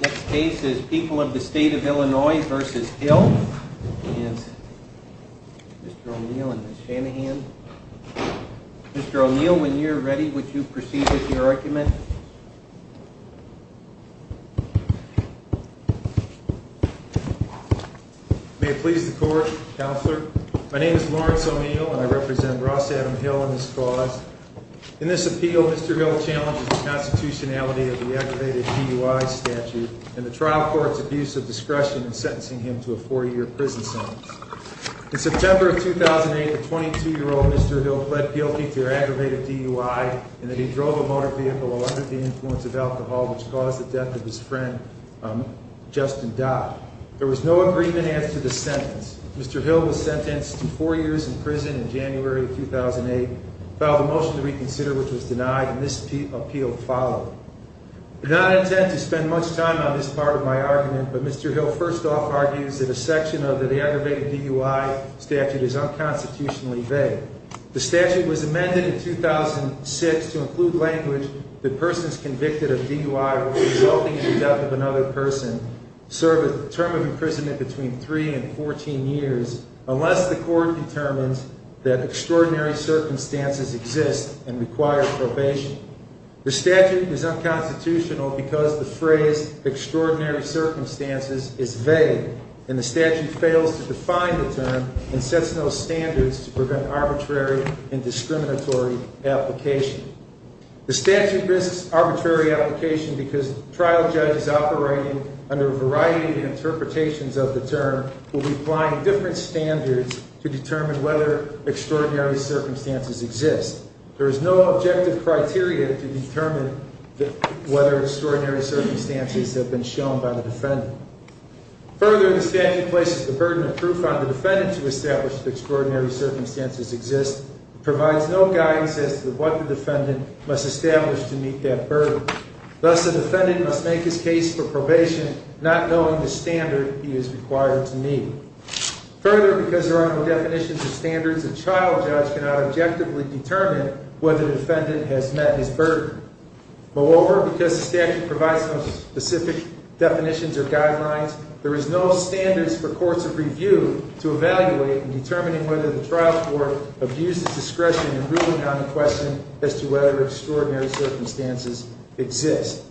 Next case is People of the State of Illinois v. Hill Mr. O'Neill and Ms. Shanahan Mr. O'Neill, when you're ready, would you proceed with your argument? May it please the Court, Counselor. My name is Lawrence O'Neill and I represent Ross Adam Hill and his cause. In this appeal Mr. Hill challenges the constitutionality of the aggravated DUI statute and the trial court's abuse of discretion in sentencing him to a four-year prison sentence. In September of 2008, the 22-year-old Mr. Hill pled guilty to aggravated DUI in that he drove a motor vehicle under the influence of alcohol which caused the death of his friend Justin Dodd. There was no agreement as to the sentence. Mr. Hill was sentenced to four years in prison in January 2008 filed a motion to reconsider which was denied and this appeal followed. I do not intend to spend much time on this part of my argument, but Mr. Hill first off argues that a section of the aggravated DUI statute is unconstitutionally vague. The statute was amended in 2006 to include language that persons convicted of DUI resulting in the death of another person serve a term of imprisonment between three and fourteen years unless the court determines that extraordinary circumstances exist and require probation. The statute is unconstitutional because the phrase extraordinary circumstances is vague and the statute fails to define the term and sets no standards to prevent arbitrary and discriminatory application. The statute risks arbitrary application because trial judges operating under a variety of interpretations of the term will be applying different standards to determine whether extraordinary circumstances exist. There is no objective criteria to determine whether extraordinary circumstances have been shown by the defendant. Further, the statute places the burden of proof on the defendant to establish that extraordinary circumstances exist and provides no guidance as to what the defendant must establish to meet that burden. Thus, the defendant must make his case for probation not knowing the standard he is required to meet. Further, because there are no definitions or standards, a trial judge cannot objectively determine whether the defendant has met his burden. Moreover, because the statute provides no specific definitions or guidelines, there is no standards for courts of review to evaluate in determining whether the trial court abuses discretion in ruling on the question as to whether extraordinary circumstances exist.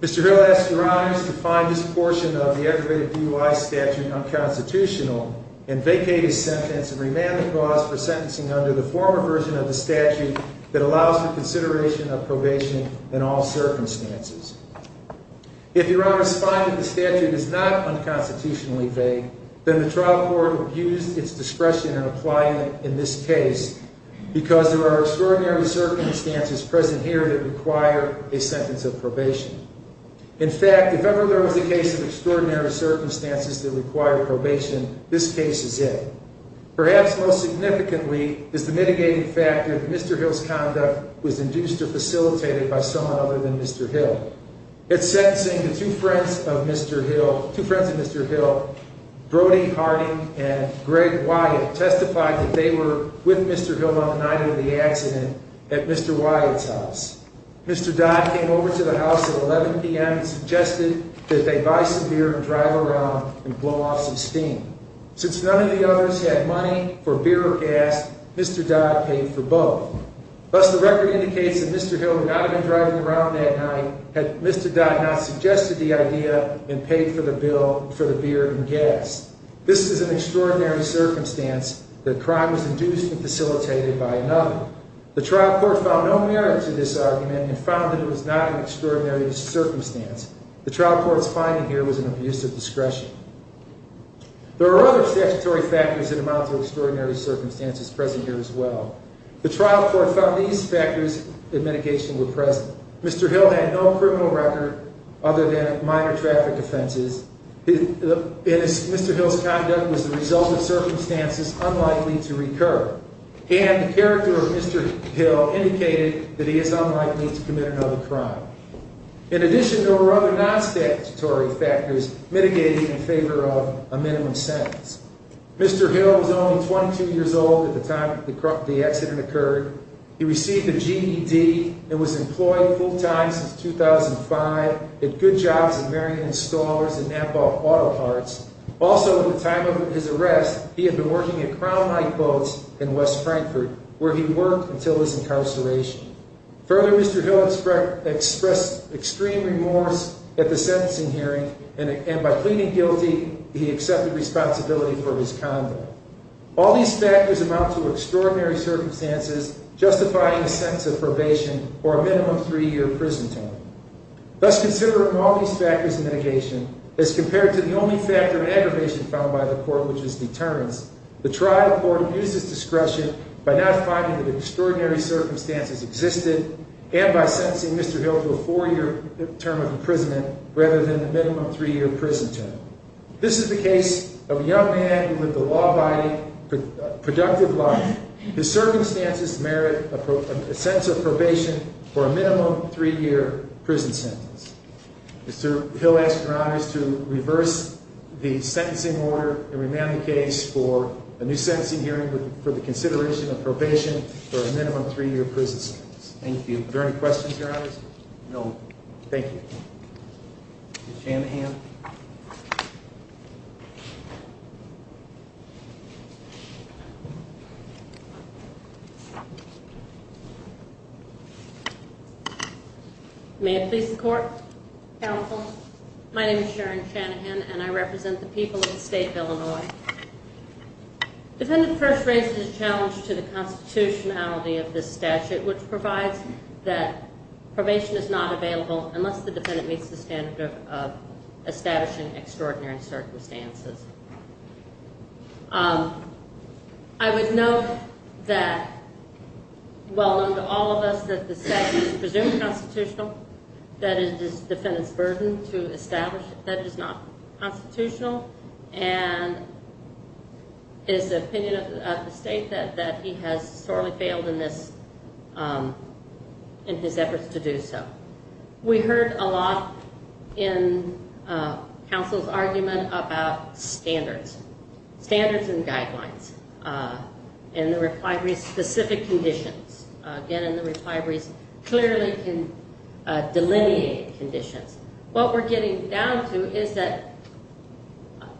Mr. Hill asks Your Honors to find this portion of the aggravated DUI statute unconstitutional and vacate his sentence and remand the clause for sentencing under the former version of the statute that allows for consideration of probation in all circumstances. If Your Honors find that the statute is not unconstitutionally vague, then the trial court abused its discretion in applying it in this case because there are extraordinary circumstances present here that require a sentence of probation. In fact, if ever there was a case of extraordinary circumstances that required probation, this case is it. Perhaps most significantly is the mitigating factor that Mr. Hill's conduct was induced or facilitated by someone other than Mr. Hill. In sentencing, two friends of Mr. Hill, Brody Harding and Greg Wyatt, testified that they were with Mr. Hill on the night of the accident at Mr. Wyatt's house. Mr. Dodd came over to the house at 11 p.m. and suggested that they buy some beer and drive around and blow off some steam. Since none of the others had money for beer or gas, Mr. Dodd paid for both. Thus, the record indicates that Mr. Hill would not have been driving around that night had Mr. Dodd not suggested the idea and paid for the beer and gas. This is an extraordinary circumstance that crime was induced and facilitated by another. The trial court found no merit to this argument and found that it was not an extraordinary circumstance. The trial court's finding here was an abuse of discretion. There are other statutory factors and amounts of extraordinary circumstances present here as well. The trial court found these factors of mitigation were present. Mr. Hill had no criminal record other than minor traffic offenses. In addition, there were other non-statutory factors mitigating in favor of a minimum sentence. Mr. Hill was only 22 years old at the time the accident occurred. He received a GED and was employed full-time since 2005, did good jobs at Marion Installers and NAPAW Auto Parts. Also, at the time of his arrest, he had been working at Crown Light Boats as a mechanic. Mr. Hill's home was in West Frankfurt, where he worked until his incarceration. Further, Mr. Hill expressed extreme remorse at the sentencing hearing, and by pleading guilty, he accepted responsibility for his conduct. All these factors amount to extraordinary circumstances justifying a sentence of probation or a minimum three-year prison term. Thus, considering all these factors of mitigation as compared to the only factor of aggravation found by the court, which was deterrence, the trial court abused its discretion by not finding that extraordinary circumstances existed, and by sentencing Mr. Hill to a four-year term of imprisonment rather than a minimum three-year prison term. This is the case of a young man who lived a law-abiding, productive life. His circumstances merit a sentence of probation for a minimum three-year prison sentence. Mr. Hill asked Your Honors to reverse the sentencing order and remand the case for a new sentencing hearing for the consideration of probation for a minimum three-year prison sentence. Thank you. Are there any questions, Your Honors? No. Thank you. Ms. Shanahan. May I please the court? Counsel. My name is Sharon Shanahan, and I represent the people of the state of Illinois. Defendant first raises a challenge to the constitutionality of this statute, which provides that probation is not available unless the defendant meets the standard of establishing extraordinary circumstances. I would note that, well known to all of us, that the statute is presumed constitutional. That is the defendant's claim to establish that it is not constitutional, and it is the opinion of the state that he has sorely failed in this, in his efforts to do so. We heard a lot in counsel's argument about standards. Standards and guidelines. And the replibrary's specific conditions. Again, in the replibrary's clearly delineated conditions. What we're getting down to is that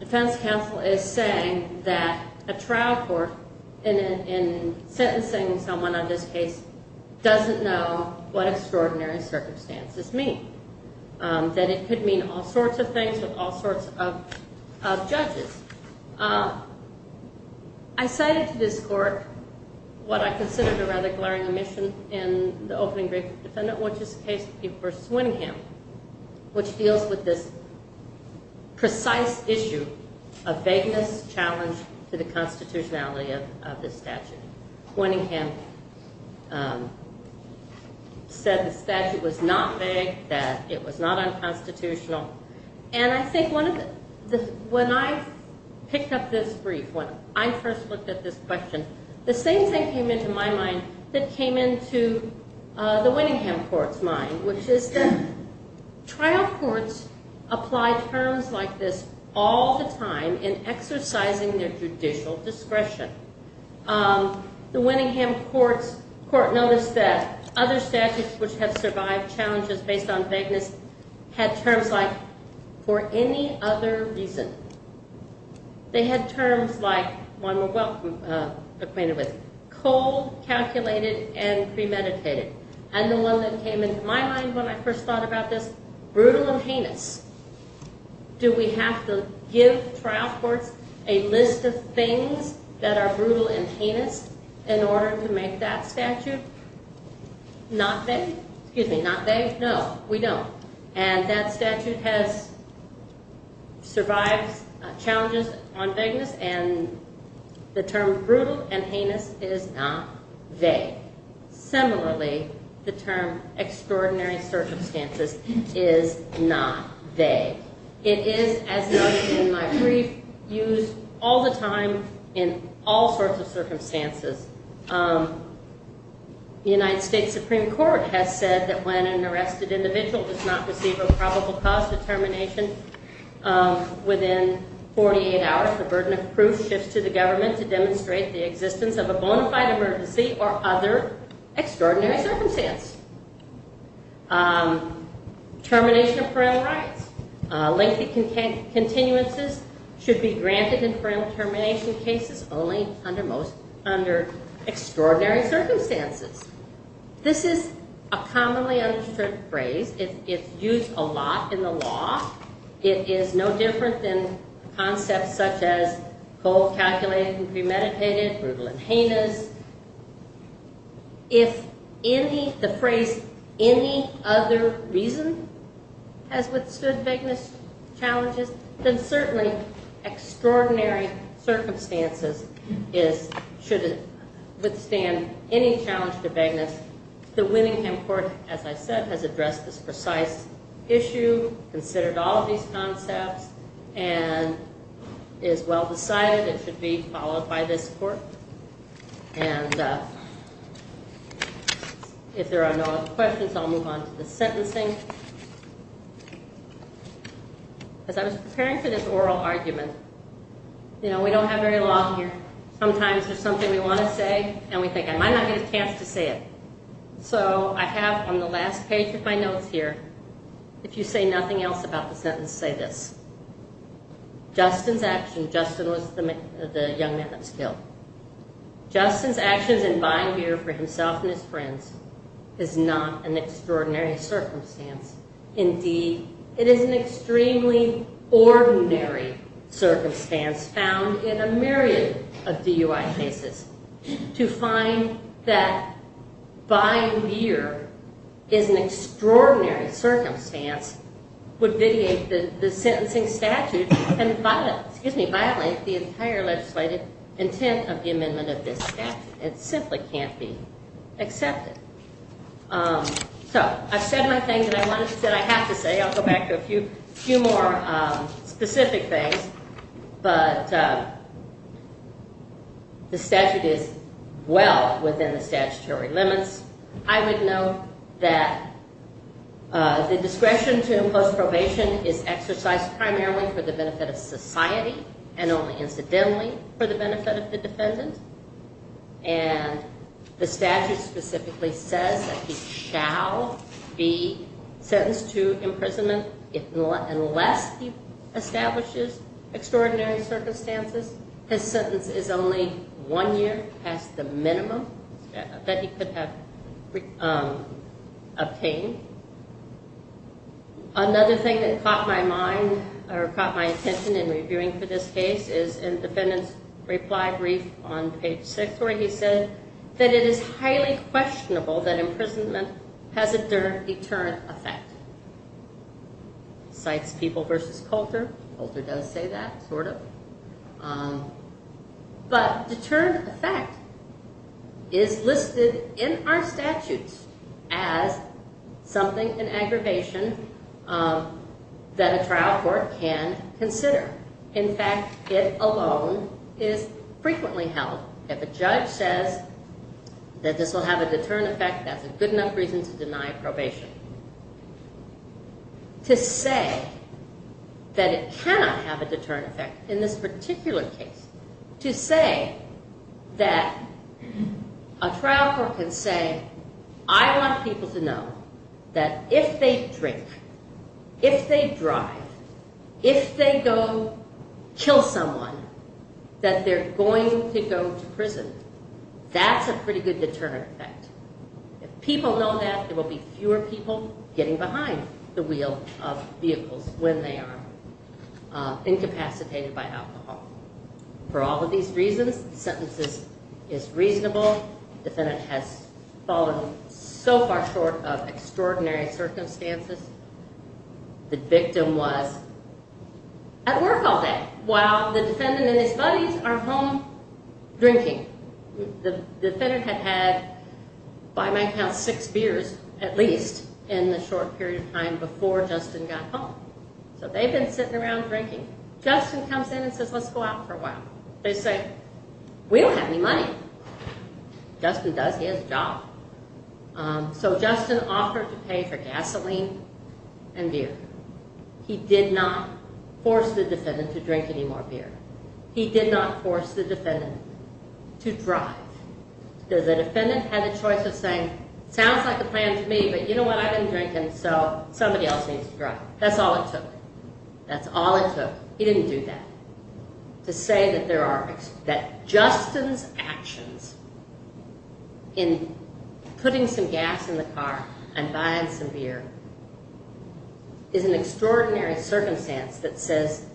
defense counsel is saying that a trial court in sentencing someone on this case doesn't know what extraordinary circumstances mean. That it could mean all sorts of things with all sorts of judges. I cited to this court what I considered a rather glaring omission in the opening brief to the defendant, which is the case of Peep v. Winningham, which deals with this precise issue of vagueness challenged to the constitutionality of this statute. Winningham said the statute was not vague, that it was not unconstitutional. And I think when I picked up this brief, when I first looked at this question, the same thing came into my mind that came into the Winningham court's mind, which is that trial courts apply terms like this all the time in exercising their judicial discretion. The Winningham court noticed that other statutes which have survived challenges based on vagueness had terms like, for any other reason. They had terms like, one we're well acquainted with, cold, calculated, and premeditated. And the one that came into my mind when I first thought about this, brutal and heinous. Do we have to give trial courts a list of things that are brutal and heinous in order to make that statute not vague? No, we don't. And that statute has survived challenges on vagueness and the term brutal and heinous is not vague. Similarly, the term extraordinary circumstances is not vague. It is, as noted in my brief, used all the time in all sorts of circumstances. The United States Supreme Court has said that when an arrested individual does not receive a probable cause determination within 48 hours, the burden of proof shifts to the government to demonstrate the existence of a bona fide emergency or other extraordinary circumstance. Termination of parole rights. Lengthy continuances should be granted in parole termination cases only under extraordinary circumstances. This is a commonly understood phrase. It's used a lot in the law. It is no different than concepts such as cold, calculated and premeditated, brutal and heinous. If the phrase any other reason has withstood vagueness challenges, then certainly extraordinary circumstances should withstand any challenge to vagueness. The Winningham Court, as I said, has addressed this precise issue, considered all of these concepts, and is well decided it should be followed by this Court. And if there are no other questions, I'll move on to the sentencing. As I was preparing for this oral argument, you know, we don't have very long here. Sometimes there's something we want to say and we think I might not get a chance to say it. So I have on the last page of my notes here, if you say nothing else about the sentence, say this. Justin's action, Justin was the young man that was killed. Justin's actions in buying beer for himself and his friends is not an extraordinary circumstance. Indeed, it is an extremely ordinary circumstance found in a myriad of DUI cases to find that buying beer is an extraordinary circumstance would vitiate the sentencing statute and violate the entire legislative intent of the amendment of this statute. It simply can't be accepted. So I've said my thing that I have to say. I'll go back to a few more specific things. But the statute is well within the statutory limits. I would note that the discretion to impose probation is exercised primarily for the benefit of society and only incidentally for the benefit of the defendant. And the statute specifically says that he shall be sentenced to imprisonment unless he establishes extraordinary circumstances. His sentence is only one year past the minimum that he could have obtained. Another thing that caught my mind or caught my attention in reviewing for this case is in the defendant's reply brief on page 6 where he said that it is highly questionable that imprisonment has a deterrent effect. Cites People v. Coulter. Coulter does say that, sort of. But deterrent effect is listed in our statutes as something, an aggravation that a trial court can consider. In fact it alone is frequently held. If a judge says that this will have a deterrent effect, that's a good enough reason to say that it cannot have a deterrent effect in this particular case. To say that a trial court can say I want people to know that if they drink, if they drive, if they go kill someone, that they're going to go to prison. That's a pretty good deterrent effect. If people know that there will be fewer people getting behind the wheel of vehicles when they are incapacitated by alcohol. For all of these reasons, the sentence is reasonable. The defendant has fallen so far short of extraordinary circumstances. The victim was at work all day while the defendant and his buddies are home drinking. The defendant had had by my count six beers at least in the short period of time before Justin got home. So they've been sitting around drinking. Justin comes in and says let's go out for a while. They say we don't have any money. Justin does, he has a job. So Justin offered to pay for gasoline and beer. He did not force the defendant to drink any more beer. He did not force the defendant to drive. The defendant had the choice of saying, sounds like a plan to me but you know what, I've been drinking so somebody else needs to drive. That's all it took. That's all it took. He didn't do that. To say that Justin's actions in putting some gas in the car and buying some beer is an extraordinary circumstance that says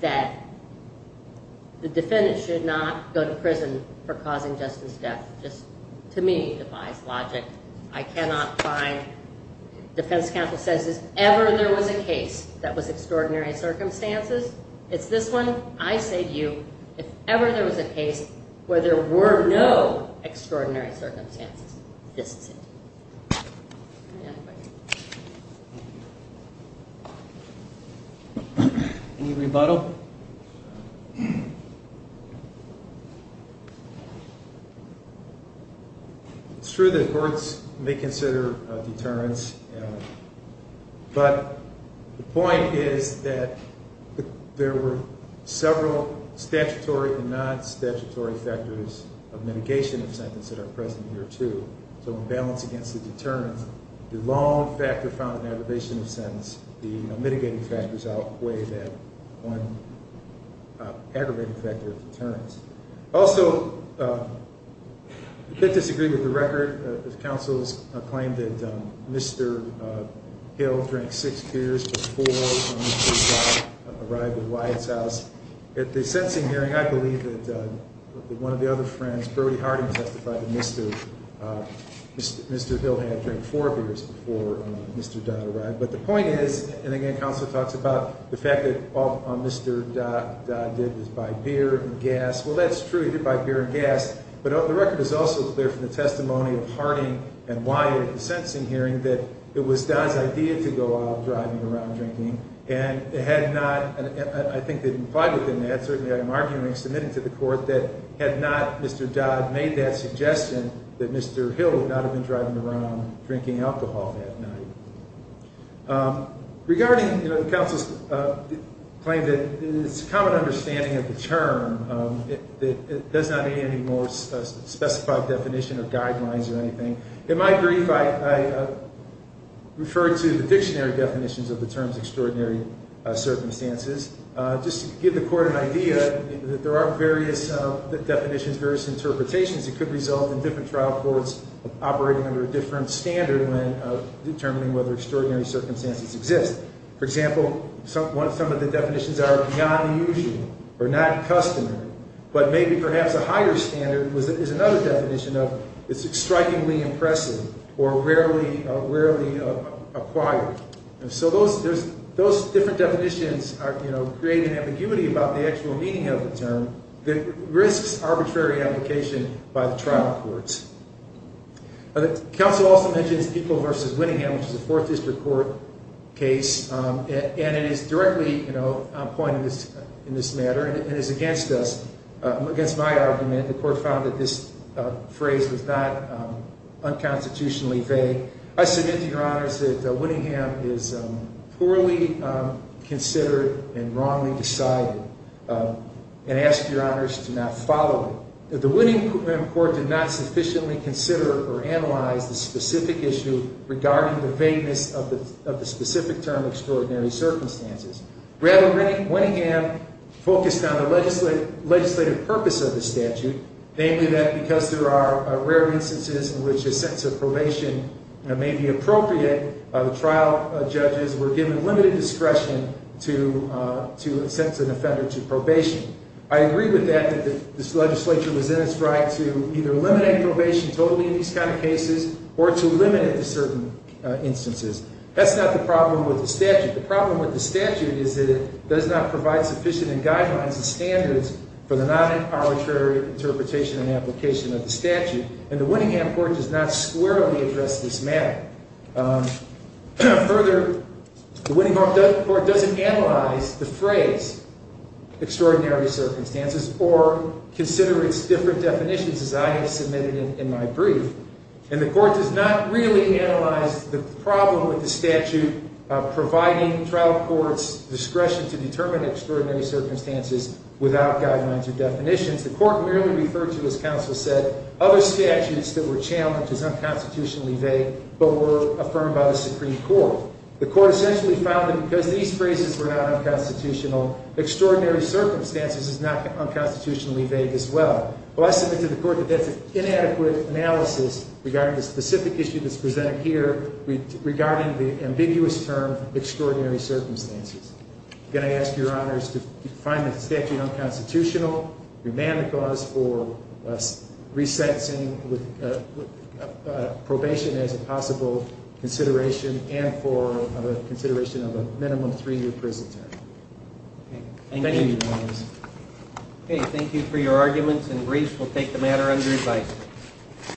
that the defendant should not go to prison for causing Justin's death just to me defies logic. I cannot find, defense counsel says if ever there was a case that was extraordinary circumstances it's this one, I say to you, if ever there was a case where there were no extraordinary circumstances, this is it. Any rebuttal? No. It's true that courts may consider deterrence but the point is that there were several statutory and non-statutory factors of mitigation of sentence that are present here too. So in balance against the deterrence the long factor found in aggravation of sentence, the mitigating factors outweigh that one aggravating factor of deterrence. Also, I disagree with the record. The counsel's claim that Mr. Hill drank six beers before Mr. Dodd arrived at Wyatt's house. At the sentencing hearing I believe that one of the other friends, Brody Harding testified that Mr. Hill had drank four beers before Mr. Dodd arrived. But the point is, and again counsel talks about the fact that all Mr. Dodd did was buy beer and gas, well that's true, he did buy beer and gas but the record is also clear from the testimony of Harding and Wyatt at the sentencing hearing that it was Dodd's idea to go out driving around drinking and it had not, I think it implied within that, certainly I'm arguing, submitting to the court, that had not Mr. Dodd made that suggestion that Mr. Hill would not have been driving around drinking alcohol that night. Regarding the counsel's claim that it's a common understanding of the term that it does not need any more specified definition or guidelines or anything. In my brief I refer to the dictionary definitions of the term's extraordinary circumstances just to give the court an idea that there are various definitions, various interpretations that could result in different trial courts operating under a different standard when determining whether extraordinary circumstances exist. For example, some of the definitions are beyond the usual or not customary, but maybe perhaps a higher standard is another definition of it's strikingly impressive or rarely acquired. So those different definitions are creating ambiguity about the actual meaning of the term that risks arbitrary application by the trial courts. Counsel also mentions People v. Winningham, which is a 4th District Court case and it is directly on point in this matter and is against us against my argument. The court found that this phrase was not unconstitutionally vague. I submit to your honors that Winningham is poorly considered and wrongly decided and ask your honors to not follow it. The Winningham court did not sufficiently consider or analyze the specific issue regarding the vagueness of the specific term extraordinary circumstances. Rather, Winningham focused on the legislative purpose of the statute, namely that because there are rare instances in which a sentence of probation may be appropriate, the trial judges were given limited discretion to sentence an offender to probation. I agree with that, that this legislature was in its right to either eliminate probation totally in these kind of cases or to limit it to certain instances. That's not the problem with the statute. The problem with the statute is that it does not provide sufficient guidelines and standards for the non-empowered jury interpretation and application of the statute and the Winningham court does not squarely address this matter. Further, the Winningham court doesn't analyze the phrase extraordinary circumstances or consider its different definitions as I have submitted in my brief and the court does not really analyze the problem with the statute providing trial courts discretion to determine extraordinary circumstances without guidelines or definitions. The court merely referred to, as counsel said, other statutes that were challenged as unconstitutionally vague but were affirmed by the Supreme Court. The court essentially found that because these phrases were not unconstitutional, extraordinary circumstances is not unconstitutionally vague as well. Well, I submit to the court that that's an inadequate analysis regarding the specific issue that's presented here regarding the ambiguous term extraordinary circumstances. Again, I ask your honors to find the statute unconstitutional, remand the cause for resentencing with probation as a possible consideration and for consideration of a minimum three-year prison term. Thank you, your honors. Okay, thank you for your arguments and briefs. We'll take the matter under advice.